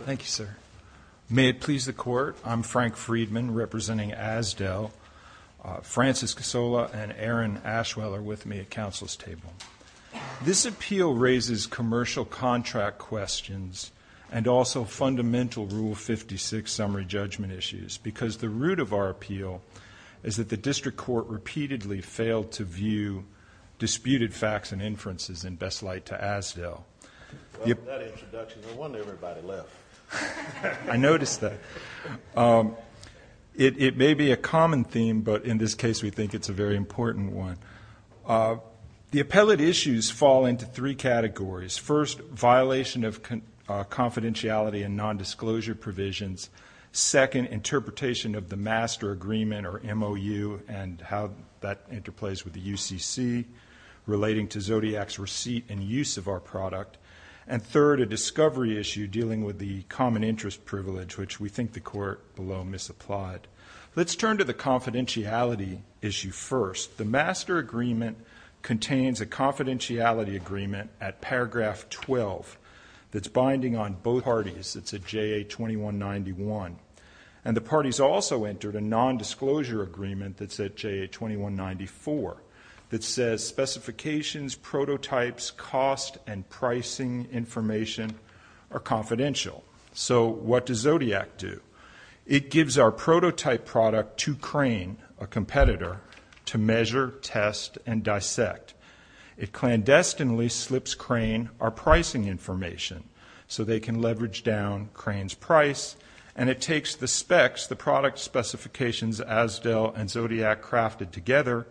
Thank you, sir. May it please the court. I'm Frank Friedman representing Azdel. Francis Casola and Aaron Ashwell are with me at council's table. This appeal raises commercial contract questions and also fundamental Rule 56 summary judgment issues because the root of our appeal is that the district court repeatedly failed to view disputed facts and inferences in best light to Azdel. I noticed that. It may be a common theme, but in this case, we think it's a very important one. The appellate issues fall into three categories. First, violation of confidentiality and non-disclosure provisions. Second, interpretation of the master agreement or MOU and how that interplays with the UCC relating to Zodiac's receipt and use of our product. And third, a discovery issue dealing with the common interest privilege, which we think the court below misapplied. Let's turn to the confidentiality issue first. The master agreement contains a confidentiality agreement at paragraph 12 that's binding on both parties. It's at JA 2191. And the parties also entered a non-disclosure agreement that's at JA 2194 that says specifications, prototypes, cost, and pricing information are confidential. So what does Zodiac do? It gives our prototype product to Crane, a competitor, to measure, test, and dissect. It clandestinely slips Crane our pricing information so they can leverage down Crane's price. And it takes the specs, the product specifications, Asdell and Zodiac crafted together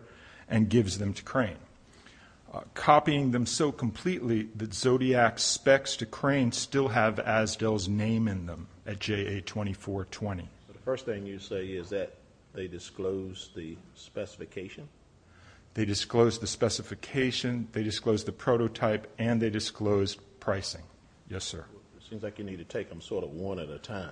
and gives them to Crane. Copying them so completely that Zodiac's specs to Crane still have Asdell's name in them at JA 2420. The first thing you say is that they disclose the specification? They disclose the specification, they disclose the prototype, and they disclose pricing. Yes, sir. Seems like you need to take them sort of one at a time.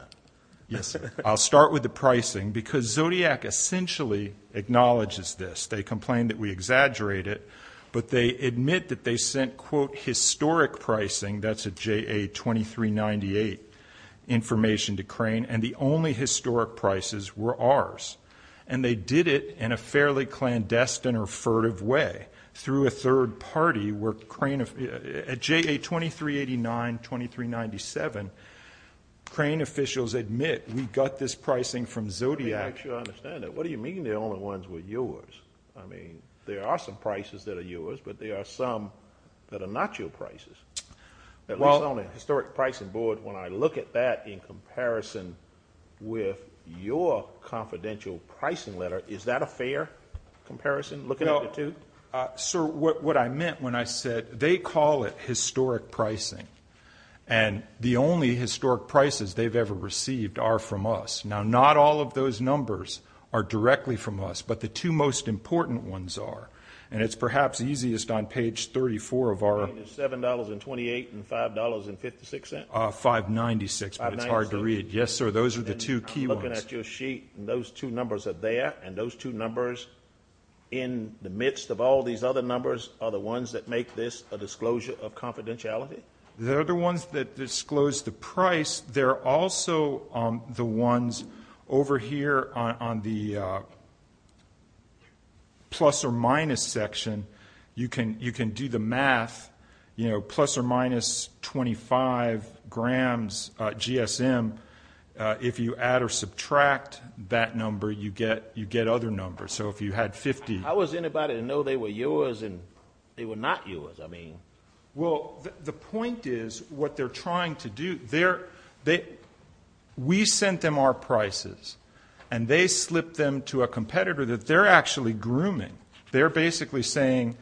Yes, sir. I'll start with the pricing because Zodiac essentially acknowledges this. They complain that we exaggerate it, but they admit that they sent, quote, historic pricing. That's at JA 2398 information to Crane. And the only historic prices were ours. And they did it in a fairly clandestine or furtive way through a third party where Crane, at JA 2389, 2397, Crane officials admit we got this pricing from Zodiac. What do you mean the only ones were yours? I mean, there are some prices that are yours, but there are some that are not your prices. At least on a historic pricing board, when I look at that in comparison with your confidential pricing letter, is that a fair comparison? Look at it, too. Sir, what I meant when I said they call it historic pricing, and the only historic prices they've ever received are from us. Now, not all of those numbers are directly from us, but the two most important ones are, and it's perhaps easiest on page 34 of our $7.28 and $5.56. $5.96, but it's hard to read. Yes, sir. Those are the two key ones. I'm looking at your sheet, and those two numbers are there, and those two numbers in the midst of all these other numbers are the ones that make this a disclosure of confidentiality? They're the ones that disclose the price. They're also the ones over here on the plus or minus section. You can do the math, you know, plus or minus 25 grams GSM. If you add or subtract that number, you get other numbers. So if you had 50... I wasn't about to know they were yours, and they were not yours. I mean... Well, the point is what they're trying to do, they're... We sent them our prices, and they slipped them to a competitor that they're actually grooming. They're basically saying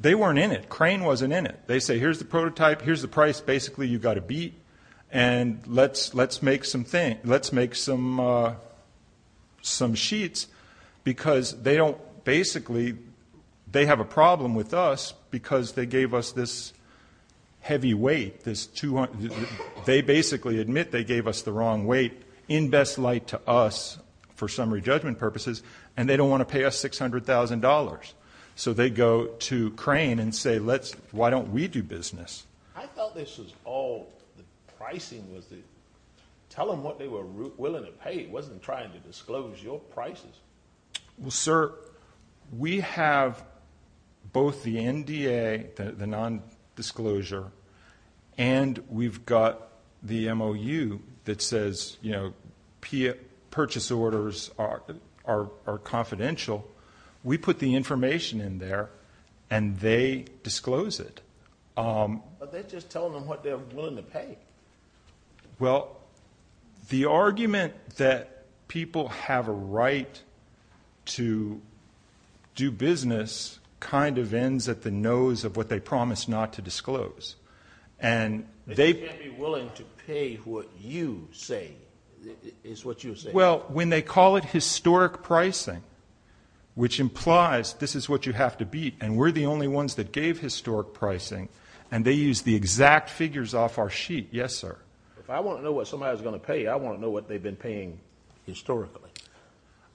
they weren't in it. Crane wasn't in it. They say, here's the prototype. Here's the price. Basically, you got a beat, and let's make some sheets, because they don't... Basically, they have a problem with us, because they gave us this heavy weight. They basically admit they gave us the wrong weight in best light to us for summary judgment purposes, and they don't want to pay us $600,000. So they go to Crane and say, why don't we do business? I thought this was all... The pricing was the... Tell them what they were willing to pay. It wasn't trying to disclose your prices. Well, sir, we have both the NDA, the non-disclosure, and we've got the MOU that says, you know, purchase orders are confidential. We put the information in there, and they disclose it. But they're just telling them what they're willing to pay. Well, the argument that people have a right to do business kind of ends at the nose of what they promise not to disclose, and they'd be willing to pay what you say is what you say. Well, when they call it historic pricing, which implies this is what you have to beat, and we're the only ones that gave historic pricing, and they use the exact figures off our sheet. Yes, sir. If I want to know what somebody's going to pay, I want to know what they've been paying historically.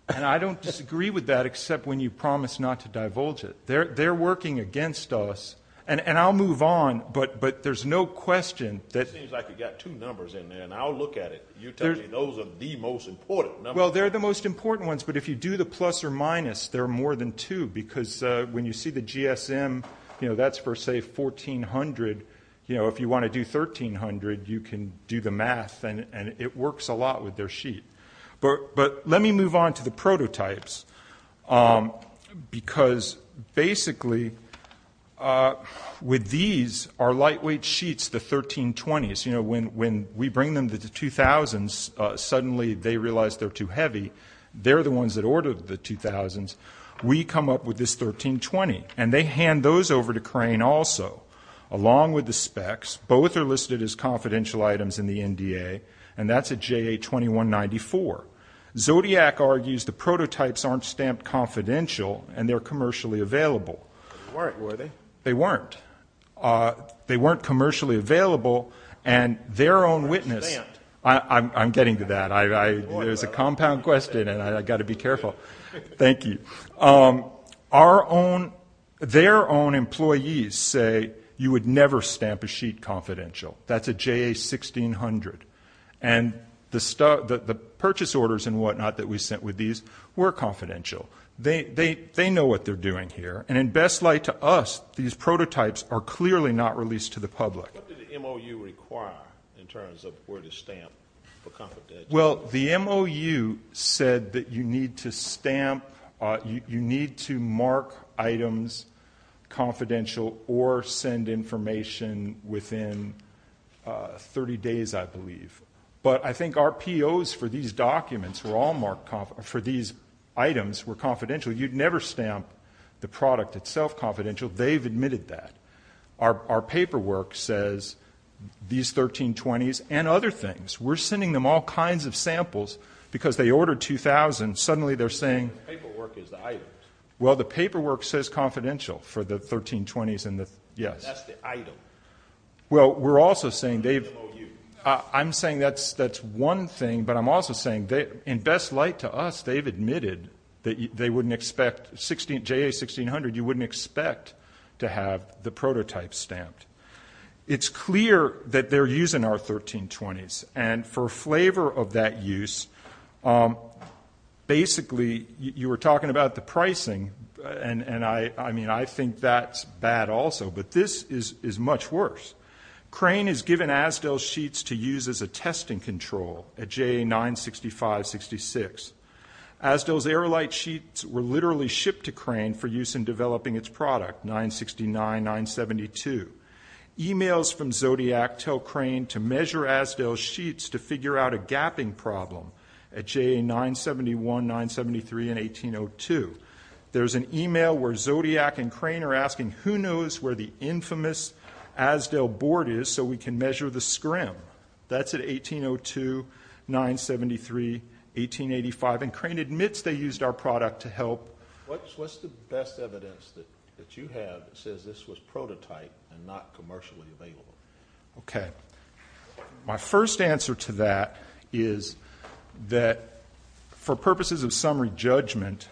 And I don't disagree with that, except when you promise not to divulge it. They're working against us, and I'll move on, but there's no question that... It seems like you've got two numbers in there, and I'll look at it. You tell me those are the most important. Well, they're the most important ones, but if you do the plus or minus, there are more than two, because when you see the GSM, you know, that's for say 1400. You know, if you want to do 1300, you can do the math, and it works a lot with their sheet. But let me move on to the prototypes, because basically with these, our lightweight sheets, the 1320s, you know, when we bring them to the 2000s, suddenly they realize they're too heavy. They're the ones that ordered the 2000s. We come up with this 1320, and they hand those over to Crane also, along with the specs. Both are listed as confidential items in the NDA, and that's a JA-2194. Zodiac argues the prototypes aren't stamped confidential, and they're commercially available. They weren't. They weren't commercially available, and their own witness. I'm getting to that. There's a compound question, and I got to be careful. Thank you. Our own, their own employees say you would never stamp a sheet confidential. That's a JA-1600, and the purchase orders and whatnot that we sent with these were confidential. They know what they're doing here, and in best light to us, these prototypes are clearly not released to the public. Well, the MOU said that you need to stamp, you need to mark items confidential or send information within 30 days, I believe. But I think our POs for these documents were all marked for these items were confidential. You'd never stamp the product itself confidential. They've admitted that. Our paperwork says these 1320s and other things. We're sending them all kinds of samples because they ordered 2000. Suddenly, they're saying well, the paperwork says confidential for the 1320s and the, yes. That's the item. Well, we're also saying they've, I'm saying that's that's one thing, but I'm also saying that in best light to us, they've admitted that they wouldn't expect 16, JA-1600, you wouldn't expect to have the prototype stamped. It's clear that they're using our 1320s, and for flavor of that use, basically, you were talking about the pricing, and I mean, I think that's bad also, but this is much worse. Crane is given Asdell sheets to use as a testing control at JA-965-66. Asdell's air light sheets were literally shipped to Crane for use in developing its product, 969-972. Emails from Zodiac tell Crane to measure Asdell sheets to figure out a gapping problem at JA-971, 973, and 1802. There's an email where Zodiac and Crane are asking, who knows where the infamous Asdell board is so we can measure the scrim? That's at 1802, 973, 1885, and Crane admits they used our product to help. What's the best evidence that you have that says this was prototype and not commercially available? Okay. My first answer to that is that for purposes of summary judgment,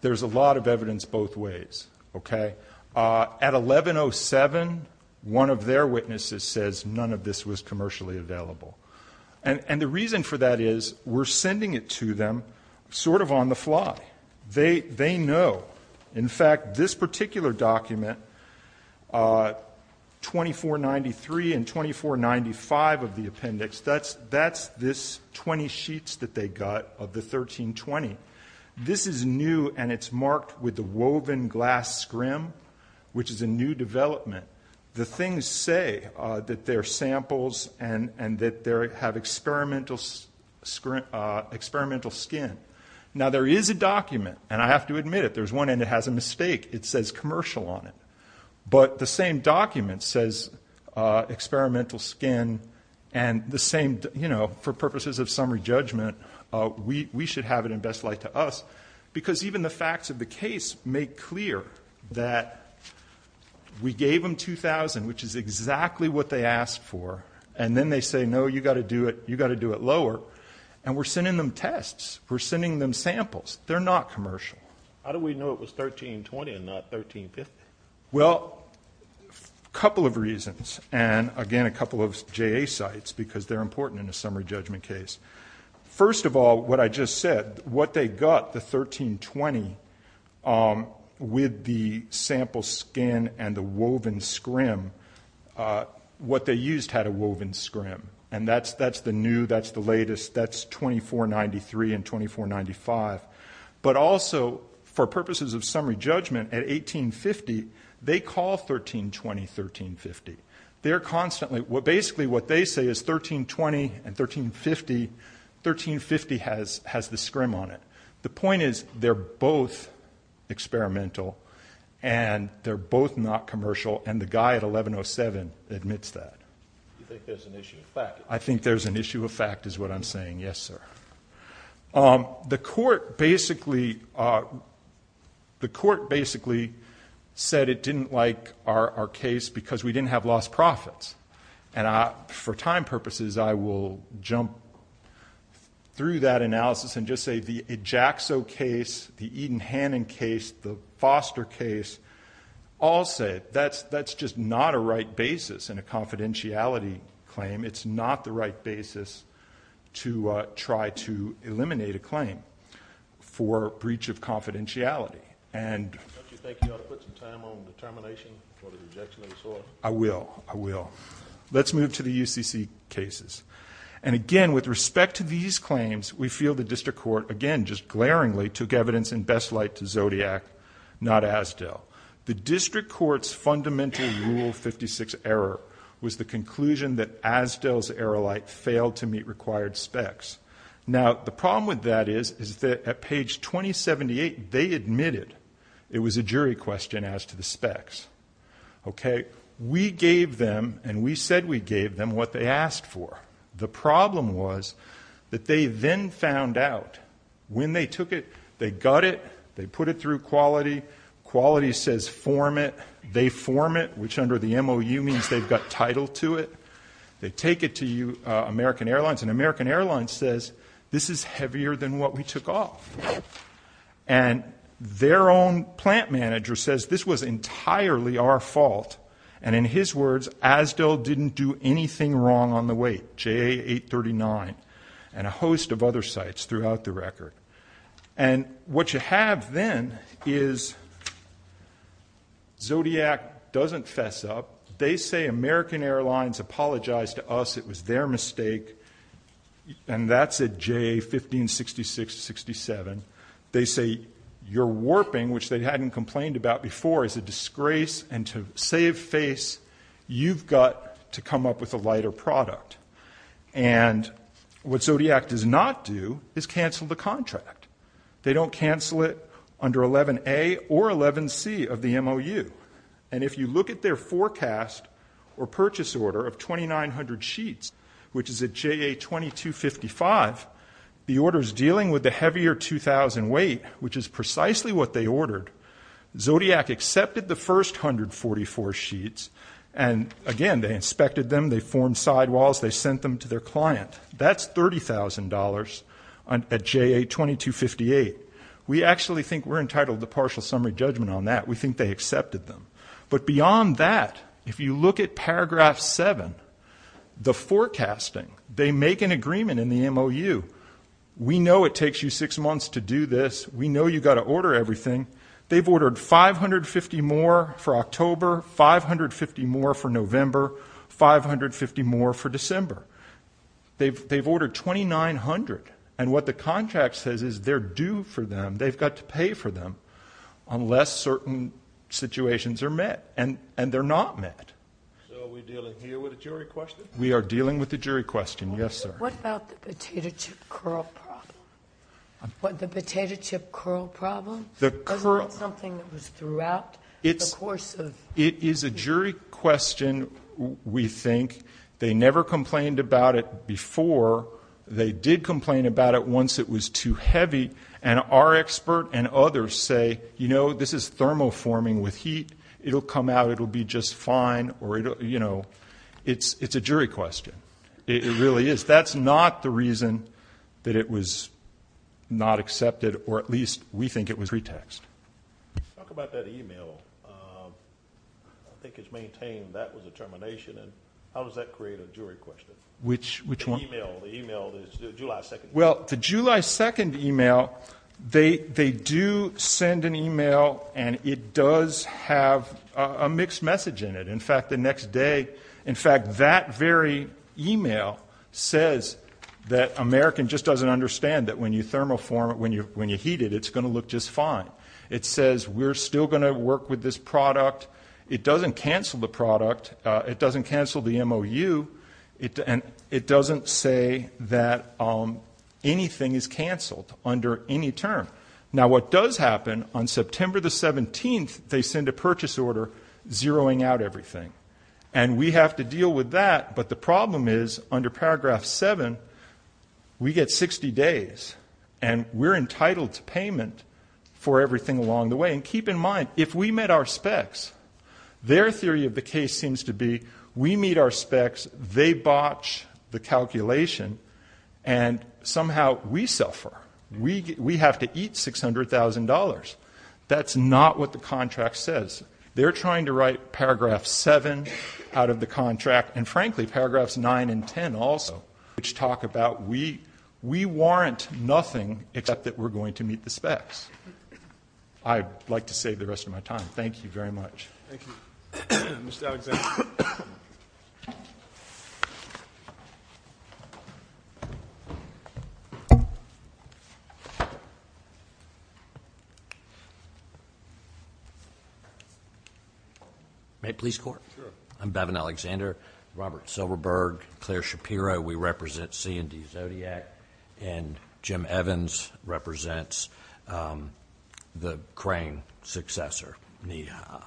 there's a lot of evidence both ways, okay? At 1107, one of their witnesses says none of this was commercially available, and the reason for that is we're sending it to them sort of on the fly. They know. In fact, this particular document, 2493 and 2495 of the appendix, that's this 20 sheets that they got of the 1320. This is new, and it's marked with the woven glass scrim, which is a new development. The things say that they're samples and that they have experimental skin. Now, there is a document, and I have to admit it, there's one end that has a mistake. It says commercial on it, but the same document says experimental skin, and the same, you know, for purposes of summary judgment, we should have it in best light to us, because even the facts of the case make clear that we gave them 2000, which is exactly what they asked for, and then they say, no, you got to do it, you got to do it lower, and we're sending them tests. We're sending them samples. They're not commercial. How do we know it was 1320 and not 1350? Well, a couple of reasons, and again, a couple of JA sites, because they're important in a summary judgment case. First of all, what I just said, what they got, the 1320, with the sample skin and the woven scrim, what they used had a woven scrim, and that's the new, that's the latest, that's 2493 and 2495, but also for purposes of summary judgment, at 1850, they call 1320 1350. They're constantly, well, basically what they say is 1320 and 1350 1350 has the scrim on it. The point is, they're both experimental, and they're both not commercial, and the guy at 1107 admits that. You think there's an issue of fact? I think there's an issue of fact, is what I'm saying. Yes, sir. The court basically, the court basically said it didn't like our case because we didn't have lost profits, and for time purposes, I will jump through that analysis and just say the EJACSO case, the Eden-Hannon case, the Foster case, all say that's just not a right basis in a confidentiality claim. It's not the right basis to try to eliminate a claim for breach of confidentiality, and... Don't you think you ought to put some time on the termination for the rejection of this order? I will, I will. Let's move to the UCC cases, and again, with respect to these claims, we feel the district court, again, just glaringly took evidence in best light to Zodiac, not Asdell. The district court's fundamental Rule 56 error was the conclusion that Asdell's error light failed to meet required specs. Now, the problem with that is, is that at page 2078, they admitted it was a jury question as to the specs. Okay, we gave them, and we said we gave them, what they asked for. The problem was that they then found out when they took it, they got it, they put it through Quality. Quality says form it. They form it, which under the MOU means they've got title to it. They take it to you, American Airlines, and American Airlines says, this is heavier than what we took off, and their own plant manager says, this was entirely our fault, and in his words, Asdell didn't do anything wrong on the weight, JA 839, and a host of other sites throughout the record, and what you have then is Zodiac doesn't fess up. They say, American Airlines apologized to us. It was their mistake, and that's at JA 1566-67. They say, you're warping, which they hadn't complained about before, is a disgrace, and to save face, you've got to come up with a lighter product, and what Zodiac does not do is cancel the contract. They don't cancel it under 11A or 11C of the MOU, and if you look at their forecast or JA 2255, the orders dealing with the heavier 2000 weight, which is precisely what they ordered, Zodiac accepted the first 144 sheets, and again, they inspected them. They formed sidewalls. They sent them to their client. That's $30,000 at JA 2258. We actually think we're entitled to partial summary judgment on that. We think they accepted them, but beyond that, if you look at paragraph 7, the forecasting, they make an agreement in the MOU. We know it takes you six months to do this. We know you've got to order everything. They've ordered 550 more for October, 550 more for November, 550 more for December. They've ordered 2,900, and what the contract says is they're due for them. They've got to pay for them unless certain situations are met, and they're not met. We are dealing with the jury question. Yes, sir. What about the potato chip curl problem? What, the potato chip curl problem? The curl. Wasn't that something that was throughout the course of... It is a jury question, we think. They never complained about it before. They did complain about it once it was too heavy, and our expert and others say, you know, this is thermoforming with heat. It'll come out. It'll be just fine, or it'll, you know, it's a jury question. It really is. That's not the reason that it was not accepted, or at least we think it was pretext. Talk about that email. I think it's maintained that was a termination, and how does that create a jury question? Which one? The email, the July 2nd email. Well, the July 2nd email, they do send an email, and it does have a mixed message in it. In fact, the next day, in fact, that very email says that American just doesn't understand that when you thermoform it, when you heat it, it's going to look just fine. It says we're still going to work with this product. It doesn't cancel the product. It doesn't cancel the MOU, and it doesn't say that anything is canceled under any term. Now, what does happen, on September the 17th, they send a purchase order zeroing out everything, and we have to deal with that, but the problem is, under paragraph 7, we get 60 days, and we're entitled to payment for everything along the way, and keep in mind, if we met our specs, their theory of the case seems to be we meet our specs, they botch the calculation, and somehow we suffer. We have to eat $600,000. That's not what the contract says. They're trying to write paragraph 7 out of the contract, and frankly, paragraphs 9 and 10 also, which talk about we warrant nothing except that we're going to meet the specs. I'd like to save the rest of my time. Thank you very much. Thank you, Mr. Alexander. May I please score? Sure. I'm Bevan Alexander, Robert Silverberg, Claire Shapiro. We represent C&D Zodiac, and Jim Evans represents the crane successor, NEHA.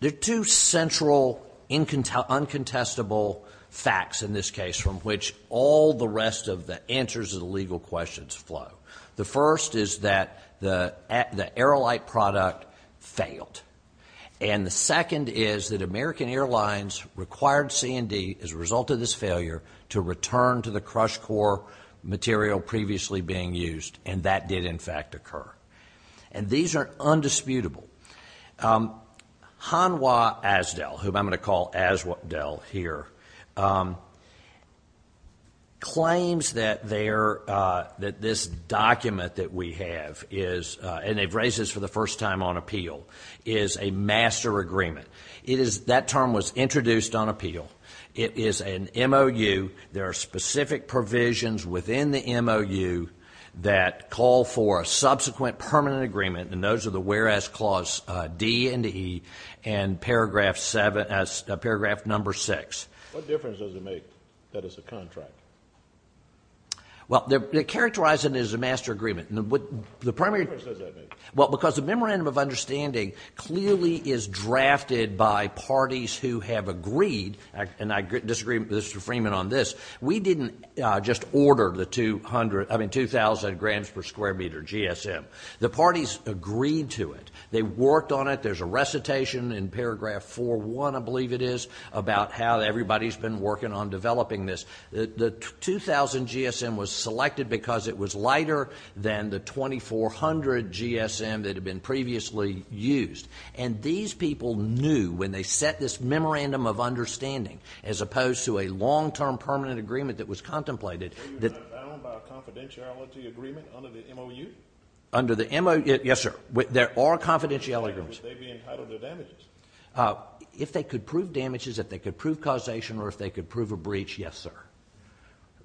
There are two central, uncontestable facts in this case from which all the rest of the answers to the legal questions flow. The first is that the AeroLite product failed, and the second is that American Airlines required C&D, as a result of this failure, to return to the CrushCore material previously being used, and that did, in fact, occur. And these are undisputable. Hanwha Asdel, whom I'm going to call Asdel here, claims that this document that we have is, and they've raised this for the first time on appeal, is a master agreement. That term was introduced on appeal. It is an MOU. There are specific provisions within the MOU that call for a subsequent permanent agreement, and those are the whereas clause D and E and paragraph number 6. What difference does it make that it's a contract? Well, they're characterizing it as a master agreement. Well, because the Memorandum of Understanding clearly is drafted by parties who have agreed, and I disagree with Mr. Freeman on this, we didn't just order the 2,000 grams per square meter GSM. The parties agreed to it. They worked on it. There's a recitation in paragraph 4.1, I believe it is, about how everybody's been working on developing this. The 2,000 GSM was selected because it was lighter than the 2,400 GSM that had been previously used, and these people knew when they set this Memorandum of Understanding, as opposed to a long-term permanent agreement that was contemplated. The MOU is not bound by a confidentiality agreement under the MOU? Under the MOU, yes, sir. There are confidentiality agreements. Would they be entitled to damages? If they could prove damages, if they could prove causation, or if they could prove a breach, yes, sir.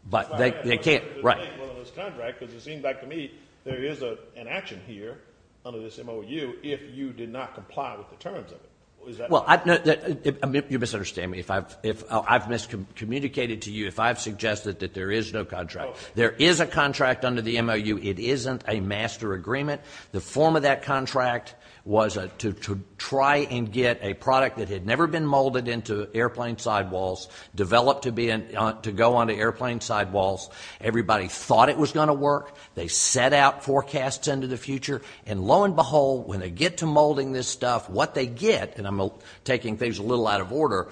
But they can't, right. Well, in this contract, because it seems like to me there is an action here under this MOU if you did not comply with the terms of it. Is that right? Well, you misunderstand me. I've miscommunicated to you. If I've suggested that there is no contract, there is a contract under the MOU. It isn't a master agreement. The form of that contract was to try and get a product that had never been molded into airplane sidewalls, developed to go onto airplane sidewalls. Everybody thought it was going to work. They set out forecasts into the future, and lo and behold, when they get to molding this stuff, what they get, and I'm taking things a little out of order,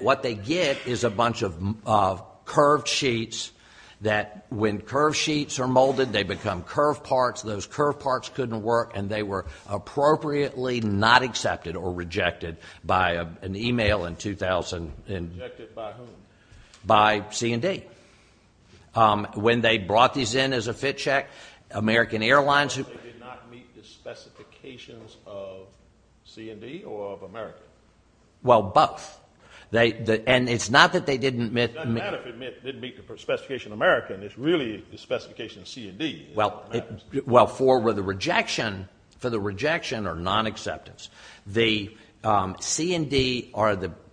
what they get is a bunch of curved sheets that when curved sheets are molded, they become curved parts. Those curved parts couldn't work, and they were appropriately not accepted or rejected by an email in 2000. Rejected by whom? By C&D. When they brought these in as a fit check, American Airlines. They did not meet the specifications of C&D or of American? Well, both. And it's not that they didn't meet the specification of American. It's really the specification of C&D. Well, for the rejection or nonacceptance, the C&D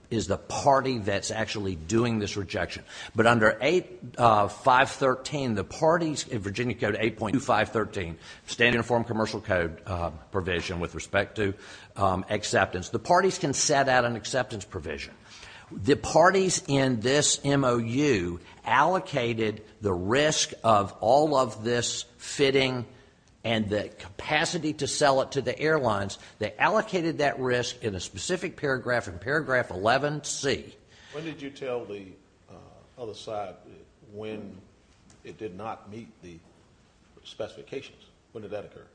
is the party that's actually doing this rejection. But under 8.513, the parties in Virginia Code 8.2513, Standard Uniform Commercial Code provision with respect to acceptance, the parties can set out an acceptance provision. The parties in this MOU allocated the risk of all of this fitting and the capacity to sell it to the airlines. They allocated that risk in a specific paragraph in paragraph 11C. When did you tell the other side when it did not meet the specifications? When did that occur?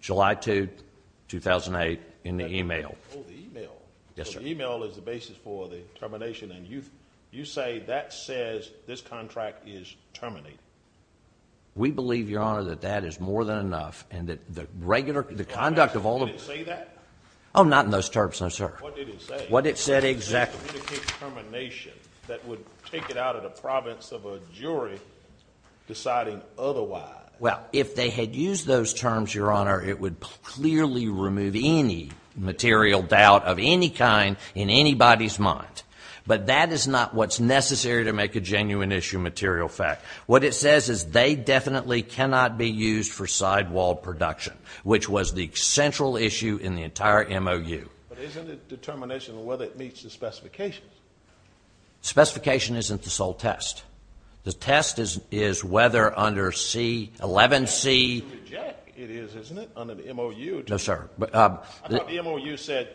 July 2, 2008, in the email. Oh, the email. Yes, sir. The email is the basis for the termination, and you say that says this contract is terminated. We believe, Your Honor, that that is more than enough and that the regular conduct of all of this. Did it say that? Oh, not in those terms, no, sir. What did it say? What it said exactly. It didn't indicate termination. That would take it out of the province of a jury deciding otherwise. Well, if they had used those terms, Your Honor, it would clearly remove any material doubt of any kind in anybody's mind. But that is not what's necessary to make a genuine issue material fact. What it says is they definitely cannot be used for sidewall production, which was the central issue in the entire MOU. But isn't it determination of whether it meets the specifications? Specification isn't the sole test. The test is whether under 11C. It is, isn't it, under the MOU? No, sir. I thought the MOU said,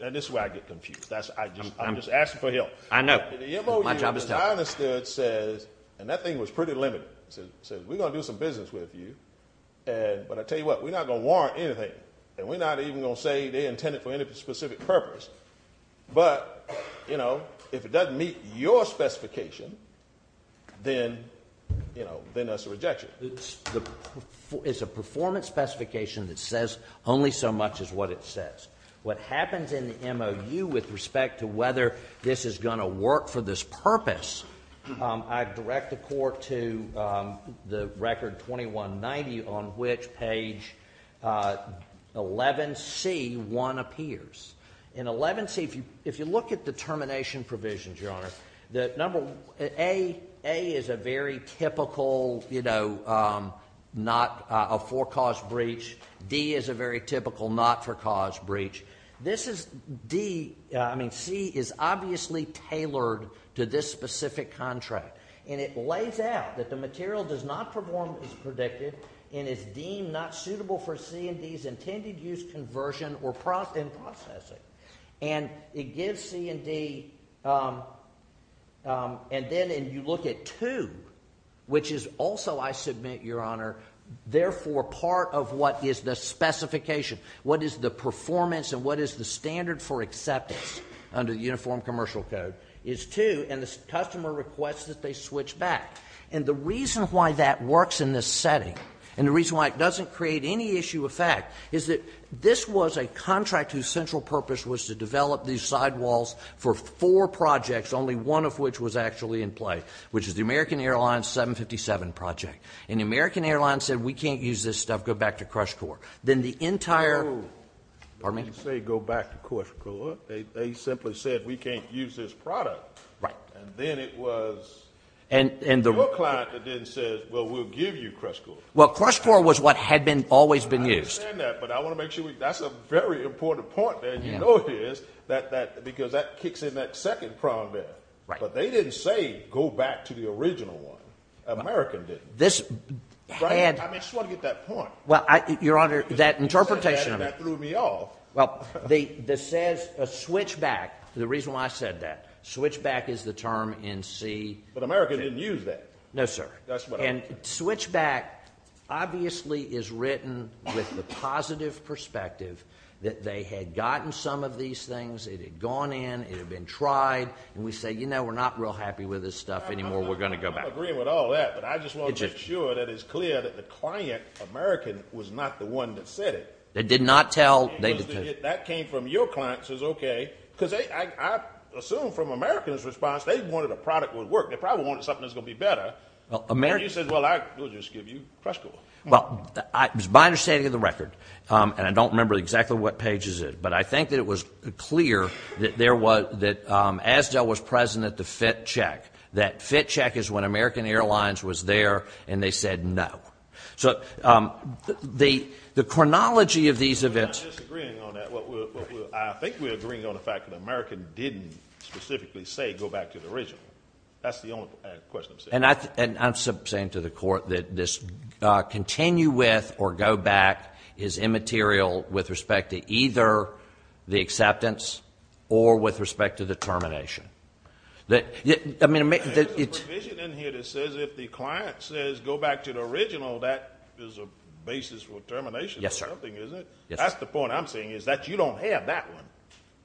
and this is where I get confused. I'm just asking for help. I know. My job is done. The MOU, as I understood, says, and that thing was pretty limited, says we're going to do some business with you, but I tell you what, we're not going to warrant anything, and we're not even going to say they're intended for any specific purpose. But, you know, if it doesn't meet your specification, then, you know, then that's a rejection. It's a performance specification that says only so much as what it says. What happens in the MOU with respect to whether this is going to work for this purpose, I direct the court to the record 2190 on which page 11C1 appears. In 11C, if you look at the termination provisions, Your Honor, the number A is a very typical, you know, not a for-cause breach. D is a very typical not-for-cause breach. This is D, I mean, C is obviously tailored to this specific contract, and it lays out that the material does not perform as predicted and is deemed not suitable for C&D's intended use, conversion, or processing. And it gives C&D, and then you look at 2, which is also, I submit, Your Honor, therefore part of what is the specification, what is the performance and what is the standard for acceptance under the Uniform Commercial Code is 2, and the customer requests that they switch back. And the reason why that works in this setting and the reason why it doesn't create any issue of fact is that this was a contract whose central purpose was to develop these sidewalls for four projects, only one of which was actually in play, which is the American Airlines 757 project. And the American Airlines said, We can't use this stuff, go back to Crush Core. Then the entire... They didn't say go back to Crush Core. They simply said, We can't use this product. And then it was your client that then said, Well, we'll give you Crush Core. Well, Crush Core was what had always been used. I understand that, but I want to make sure we... That's a very important point there, and you know it is, because that kicks in that second problem there. But they didn't say go back to the original one. American didn't. I just want to get that point. Your Honor, that interpretation... That threw me off. The switchback, the reason why I said that, switchback is the term in C... But American didn't use that. No, sir. And switchback obviously is written with the positive perspective that they had gotten some of these things, it had gone in, it had been tried, and we say, You know, we're not real happy with this stuff anymore, we're going to go back. I'm not agreeing with all that, but I just want to make sure that it's clear that the client, American, was not the one that said it. They did not tell... That came from your client, says, Okay. Because I assume from American's response, they wanted a product that would work. They probably wanted something that was going to be better. And you said, Well, I will just give you Crush Core. Well, it was my understanding of the record, and I don't remember exactly what page is it, but I think that it was clear that there was... that Asdell was present at the FIT check. That FIT check is when American Airlines was there, and they said no. So the chronology of these events... I'm not disagreeing on that. I think we're agreeing on the fact that American didn't specifically say go back to the original. That's the only question I'm saying. And I'm saying to the Court that this continue with or go back is immaterial with respect to either the acceptance or with respect to the termination. I mean... There's a provision in here that says if the client says go back to the original, that is a basis for termination. Yes, sir. That's the point I'm saying is that you don't have that one.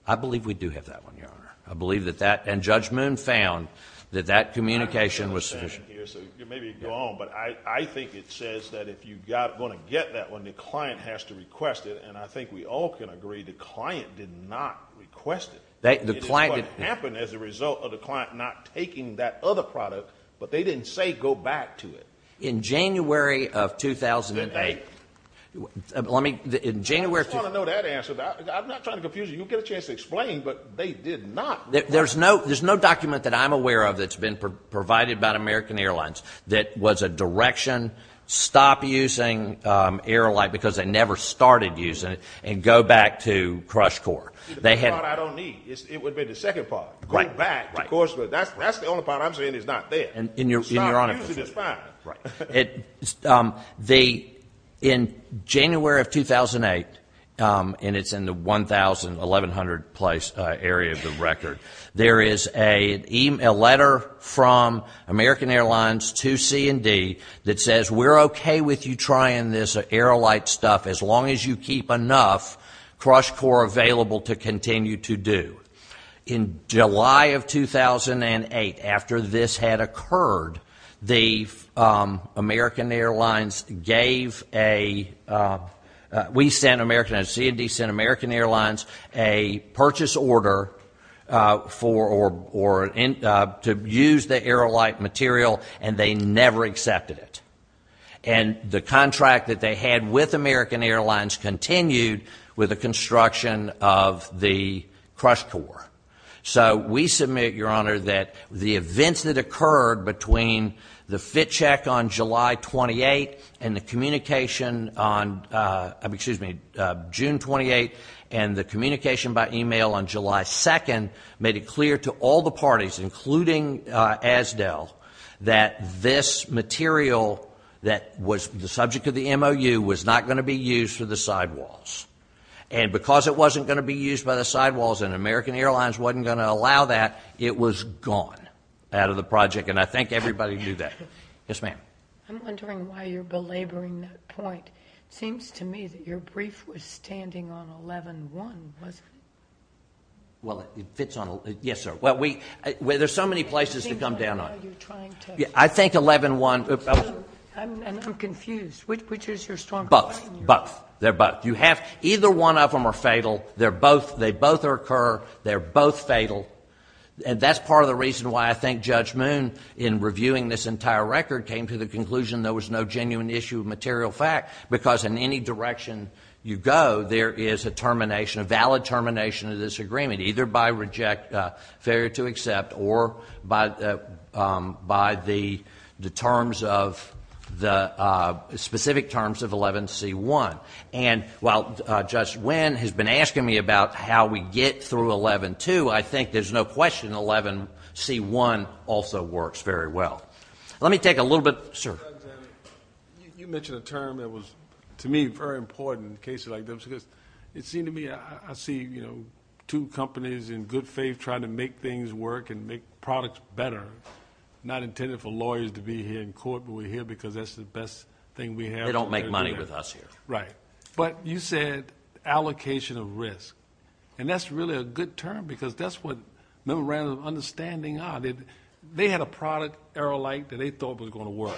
I believe we do have that one, Your Honor. I believe that that... And Judge Moon found that that communication was sufficient. I understand here, so maybe you can go on, but I think it says that if you're going to get that one, the client has to request it, and I think we all can agree the client did not request it. It is what happened as a result of the client not taking that other product, but they didn't say go back to it. In January of 2008... I just want to know that answer. I'm not trying to confuse you. You'll get a chance to explain, but they did not... There's no document that I'm aware of that's been provided by American Airlines that was a direction, stop using Aerolite because they never started using it, and go back to Crush Core. The first part I don't need. It would have been the second part. Go back, of course, but that's the only part I'm saying is not there. Stop using is fine. In January of 2008, and it's in the 1,100-place area of the record, there is a letter from American Airlines to C&D that says we're okay with you trying this Aerolite stuff as long as you keep enough Crush Core available to continue to do. In July of 2008, after this had occurred, the American Airlines gave a... We sent American... C&D sent American Airlines a purchase order to use the Aerolite material, and they never accepted it. And the contract that they had with American Airlines continued with the construction of the Crush Core. So we submit, Your Honor, that the events that occurred between the fit check on July 28 and the communication on... Excuse me, June 28 and the communication by email on July 2 made it clear to all the parties, including ASDEL, that this material that was the subject of the MOU was not going to be used for the sidewalls. And because it wasn't going to be used by the sidewalls and American Airlines wasn't going to allow that, it was gone out of the project, and I think everybody knew that. Yes, ma'am. I'm wondering why you're belaboring that point. It seems to me that your brief was standing on 11-1, wasn't it? Well, it fits on... Yes, sir. Well, there's so many places to come down on it. I think 11-1... I'm confused. Which is your strong point? Both. Both. They're both. Either one of them are fatal. They both occur, they're both fatal, and that's part of the reason why I think Judge Moon, in reviewing this entire record, came to the conclusion there was no genuine issue of material fact, because in any direction you go, there is a termination, a valid termination of this agreement, either by failure to accept or by the terms of... the specific terms of 11-C-1. And while Judge Wynn has been asking me about how we get through 11-2, I think there's no question 11-C-1 also works very well. Let me take a little bit... Sir. You mentioned a term that was, to me, very important in cases like this, because it seemed to me, I see two companies in good faith trying to make things work and make products better, not intended for lawyers to be here in court, but we're here because that's the best thing we have. They don't make money with us here. Right. But you said allocation of risk, and that's really a good term, because that's what Member Randall's understanding are. They had a product, Aerolite, that they thought was going to work,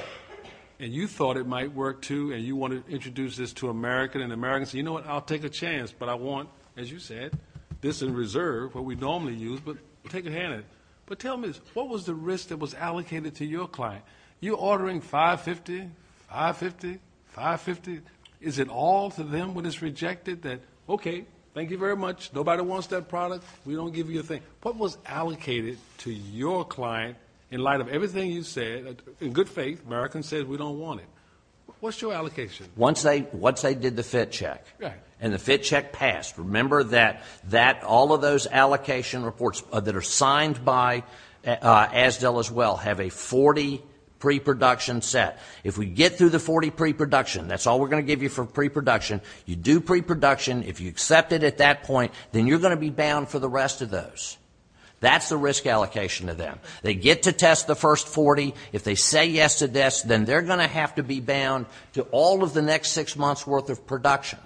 and you thought it might work too, and you want to introduce this to America, and say, you know what, I'll take a chance, but I want, as you said, this in reserve, what we normally use, but take a hand in it. But tell me, what was the risk that was allocated to your client? You're ordering $5.50, $5.50, $5.50. Is it all to them what is rejected? That, okay, thank you very much, nobody wants that product, we don't give you a thing. What was allocated to your client in light of everything you said? In good faith, Americans said we don't want it. What's your allocation? Once they did the fit check. And the fit check passed. Remember that all of those allocation reports that are signed by ASDL as well have a 40 pre-production set. If we get through the 40 pre-production, that's all we're going to give you for pre-production, you do pre-production, if you accept it at that point, then you're going to be bound for the rest of those. That's the risk allocation to them. They get to test the first 40. If they say yes to this, then they're going to have to be bound to all of the next six months' worth of production.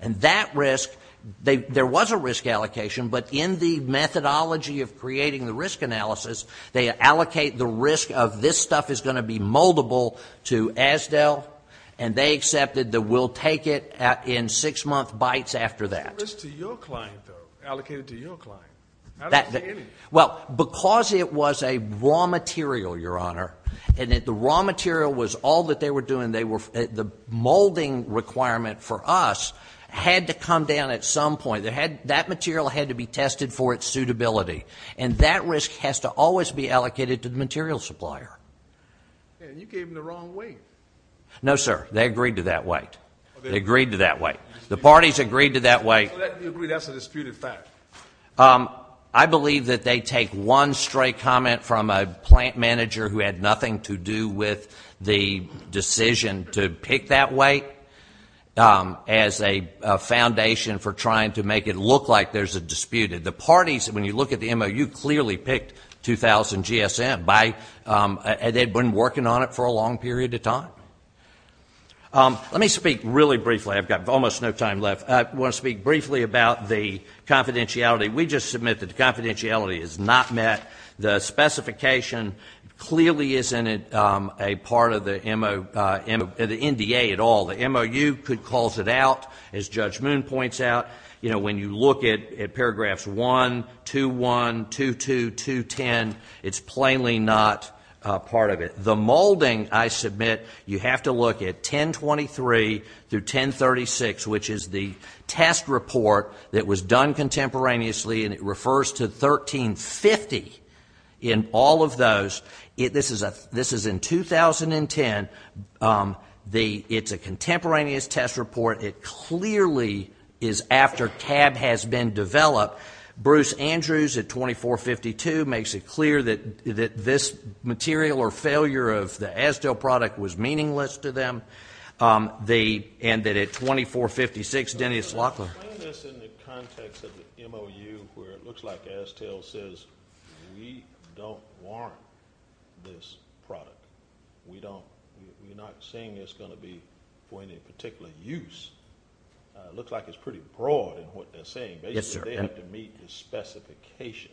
And that risk, there was a risk allocation, but in the methodology of creating the risk analysis, they allocate the risk of this stuff is going to be moldable to ASDL, and they accepted that we'll take it in six-month bites after that. What's the risk to your client, though, allocated to your client? Well, because it was a raw material, Your Honor, and the raw material was all that they were doing. The molding requirement for us had to come down at some point. That material had to be tested for its suitability, and that risk has to always be allocated to the material supplier. You gave them the wrong weight. No, sir, they agreed to that weight. They agreed to that weight. The parties agreed to that weight. That's a disputed fact. I believe that they take one stray comment from a plant manager who had nothing to do with the decision to pick that weight as a foundation for trying to make it look like there's a dispute. The parties, when you look at the MOU, clearly picked 2,000 GSM. They've been working on it for a long period of time. Let me speak really briefly. I've got almost no time left. I want to speak briefly about the confidentiality. We just submit that the confidentiality is not met. The specification clearly isn't a part of the NDA at all. The MOU calls it out, as Judge Moon points out. When you look at paragraphs 1, 2.1, 2.2, 2.10, it's plainly not part of it. The molding, I submit, you have to look at 1023 through 1036, which is the test report that was done contemporaneously, and it refers to 1350 in all of those. This is in 2010. It's a contemporaneous test report. It clearly is after CAB has been developed. Bruce Andrews at 2452 makes it clear that this material or failure of the Explain this in the context of the MOU where it looks like ASTEL says we don't warrant this product. We're not saying it's going to be for any particular use. It looks like it's pretty broad in what they're saying. Basically, they have to meet the specification.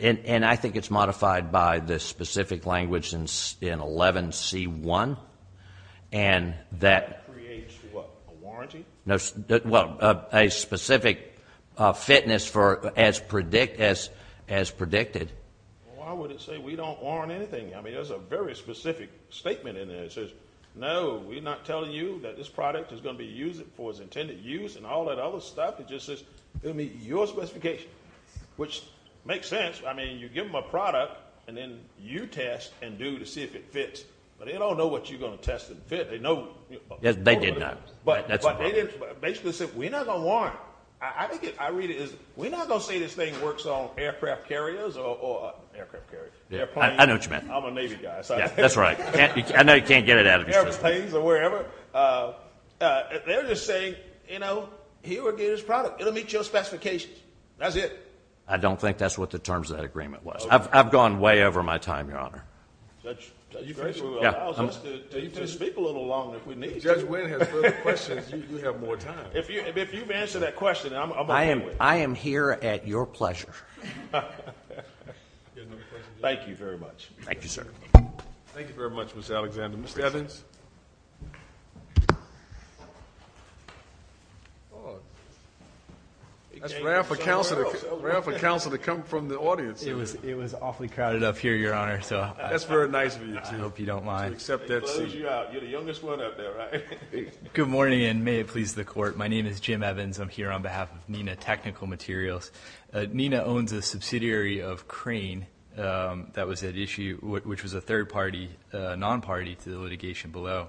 I think it's modified by the specific language in 11C1. That creates what, a warranty? Well, a specific fitness for as predicted. Why would it say we don't warrant anything? There's a very specific statement in there that says, no, we're not telling you that this product is going to be used for its intended use and all that other stuff. It just says it will meet your specification, which makes sense. You give them a product, and then you test and do to see if it fits. But they don't know what you're going to test and fit. They know. They did know. But basically, they said, we're not going to warrant. I read it as, we're not going to say this thing works on aircraft carriers. I know what you meant. I'm a Navy guy. That's right. I know you can't get it out of your system. Airplanes or wherever. They're just saying, you know, here we get this product. It will meet your specifications. That's it. I don't think that's what the terms of that agreement was. I've gone way over my time, Your Honor. Judge Grisham allows us to speak a little longer if we need to. If Judge Wynn has further questions, you have more time. If you've answered that question, I'm on my way. I am here at your pleasure. Thank you very much. Thank you, sir. Thank you very much, Mr. Alexander. Mr. Evans. That's rare for counsel to come from the audience. It was awfully crowded up here, Your Honor. That's very nice of you, too. I hope you don't mind. Close you out. You're the youngest one up there, right? Good morning, and may it please the court. My name is Jim Evans. I'm here on behalf of NENA Technical Materials. NENA owns a subsidiary of Crane that was at issue, which was a third-party non-party to the litigation below.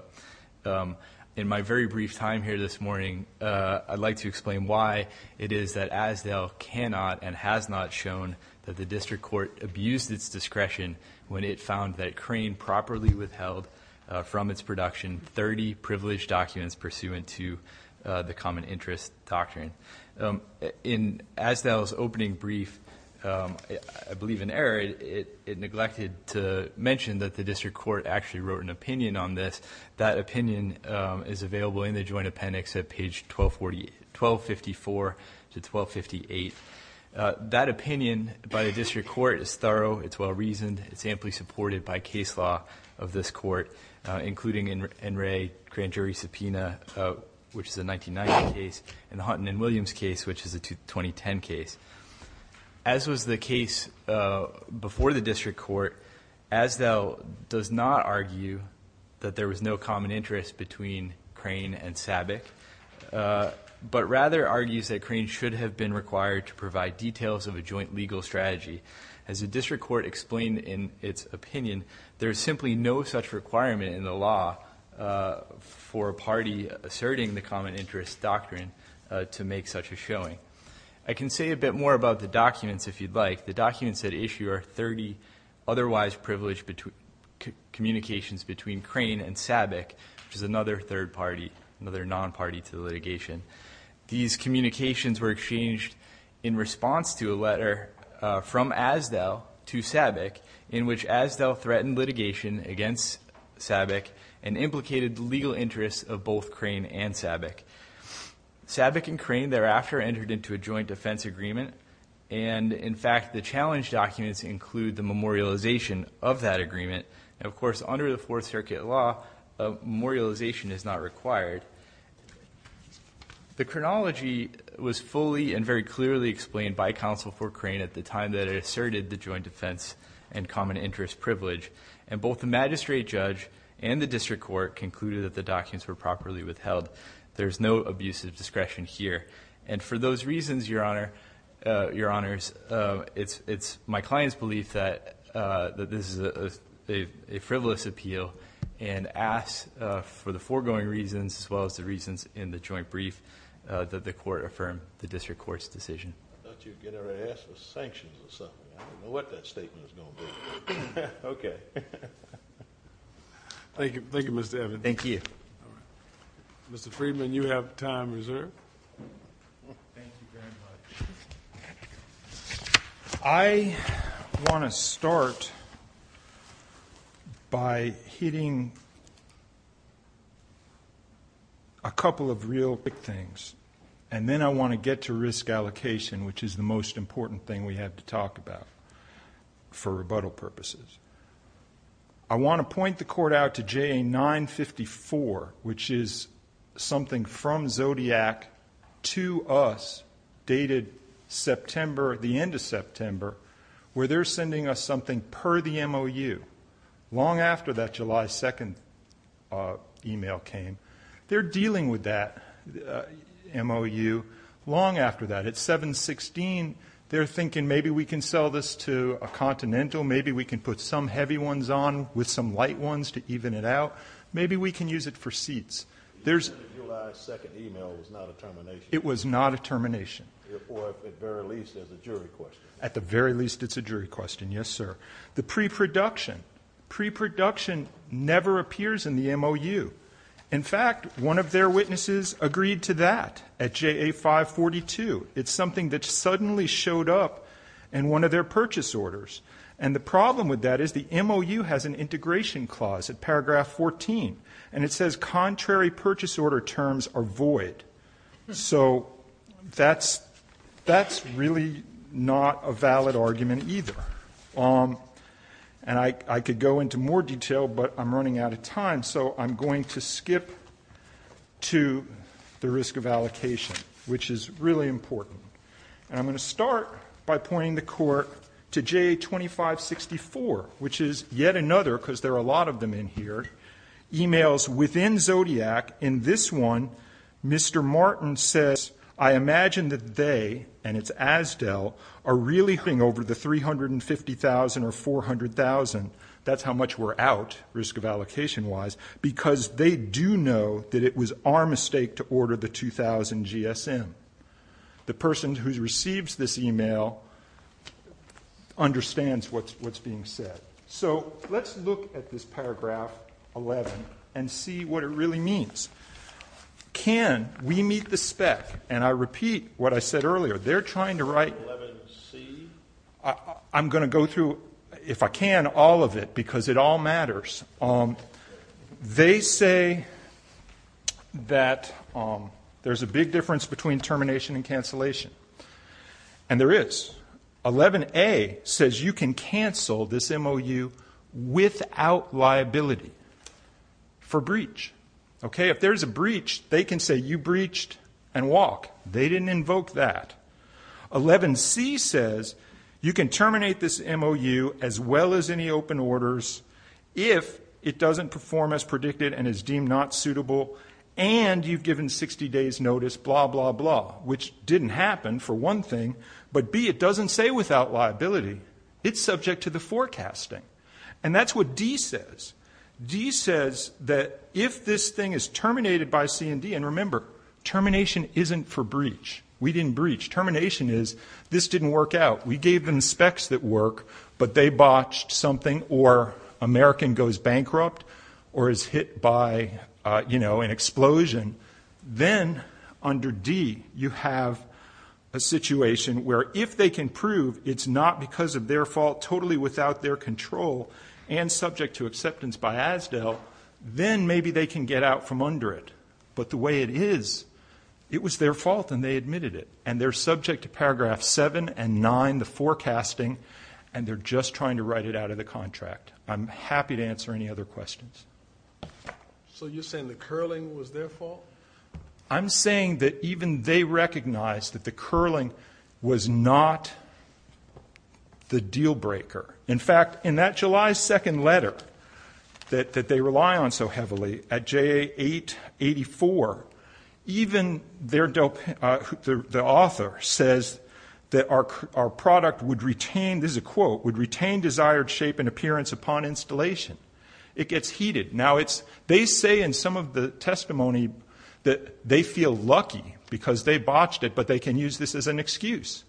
In my very brief time here this morning, I'd like to explain why it is that Asdale cannot and has not shown that Crane properly withheld from its production 30 privileged documents pursuant to the common interest doctrine. In Asdale's opening brief, I believe in error, it neglected to mention that the district court actually wrote an opinion on this. That opinion is available in the joint appendix at page 1254 to 1258. That opinion by the district court is thorough. It's well-reasoned. It's amply supported by case law of this court, including NRA grand jury subpoena, which is a 1990 case, and the Hunton and Williams case, which is a 2010 case. As was the case before the district court, Asdale does not argue that there was no common interest between Crane and SABIC, but rather argues that Crane should have been required to provide details of a joint legal strategy. As the district court explained in its opinion, there is simply no such requirement in the law for a party asserting the common interest doctrine to make such a showing. I can say a bit more about the documents if you'd like. The documents at issue are 30 otherwise privileged communications between Crane and SABIC, which is another third party, another non-party to the litigation. These communications were exchanged in response to a letter from Asdale to SABIC in which Asdale threatened litigation against SABIC and implicated the legal interests of both Crane and SABIC. SABIC and Crane thereafter entered into a joint defense agreement, and in fact, the challenge documents include the memorialization of that agreement. Of course, under the Fourth Circuit law, memorialization is not required. The chronology was fully and very clearly explained by counsel for Crane at the time that it asserted the joint defense and common interest privilege, and both the magistrate judge and the district court concluded that the documents were properly withheld. There's no abusive discretion here. And for those reasons, Your Honor, it's my client's belief that this is a frivolous appeal and asks for the foregoing reasons as well as the reasons in the joint brief that the court affirm the district court's decision. I thought you'd get her ass with sanctions or something. I don't know what that statement is going to be. Okay. Thank you, Mr. Evans. Thank you. All right. Mr. Friedman, you have time reserved. Thank you very much. I want to start by hitting a couple of real big things, and then I want to get to risk allocation, which is the most important thing we have to talk about for rebuttal purposes. I want to point the court out to JA954, which is something from Zodiac to us dated September, the end of September, where they're sending us something per the MOU, long after that July 2nd email came. They're dealing with that MOU long after that. At 7-16, they're thinking maybe we can sell this to a Continental. Maybe we can put some heavy ones on with some light ones to even it out. Maybe we can use it for seats. The end of July 2nd email was not a termination. It was not a termination. Or at the very least as a jury question. At the very least it's a jury question, yes, sir. The pre-production. Pre-production never appears in the MOU. In fact, one of their witnesses agreed to that at JA542. It's something that suddenly showed up in one of their purchase orders. And the problem with that is the MOU has an integration clause at paragraph 14, and it says contrary purchase order terms are void. So that's really not a valid argument either. And I could go into more detail, but I'm running out of time, so I'm going to skip to the risk of allocation, which is really important. And I'm going to start by pointing the court to JA2564, which is yet another, because there are a lot of them in here, emails within Zodiac. In this one, Mr. Martin says, I imagine that they, and it's Asdel, are really putting over the $350,000 or $400,000. That's how much we're out, risk of allocation-wise, because they do know that it was our mistake to order the 2,000 GSM. The person who receives this email understands what's being said. So let's look at this paragraph 11 and see what it really means. Can we meet the spec? And I repeat what I said earlier. They're trying to write 11C. I'm going to go through, if I can, all of it, because it all matters. They say that there's a big difference between termination and cancellation. And there is. 11A says you can cancel this MOU without liability for breach. If there's a breach, they can say you breached and walk. They didn't invoke that. 11C says you can terminate this MOU as well as any open orders if it doesn't perform as predicted and is deemed not suitable and you've given 60 days' notice, blah, blah, blah, which didn't happen, for one thing. But B, it doesn't say without liability. It's subject to the forecasting. And that's what D says. D says that if this thing is terminated by C&D, and remember, termination isn't for breach. We didn't breach. Termination is this didn't work out. We gave them specs that work, but they botched something or American goes bankrupt or is hit by, you know, an explosion. Then, under D, you have a situation where if they can prove it's not because of their fault totally without their control and subject to acceptance by ASDEL, then maybe they can get out from under it. But the way it is, it was their fault and they admitted it. And they're subject to paragraph 7 and 9, the forecasting, and they're just trying to write it out of the contract. I'm happy to answer any other questions. So you're saying the curling was their fault? I'm saying that even they recognized that the curling was not the deal breaker. In fact, in that July 2 letter that they rely on so heavily, at JA 884, even the author says that our product would retain, this is a quote, would retain desired shape and appearance upon installation. It gets heated. Now, they say in some of the testimony that they feel lucky because they botched it, but they can use this as an excuse.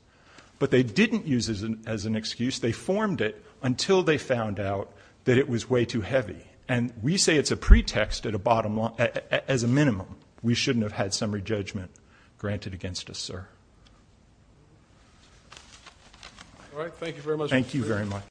But they didn't use it as an excuse. They formed it until they found out that it was way too heavy. And we say it's a pretext as a minimum. We shouldn't have had summary judgment granted against us, sir. All right. Thank you very much. Thank you very much.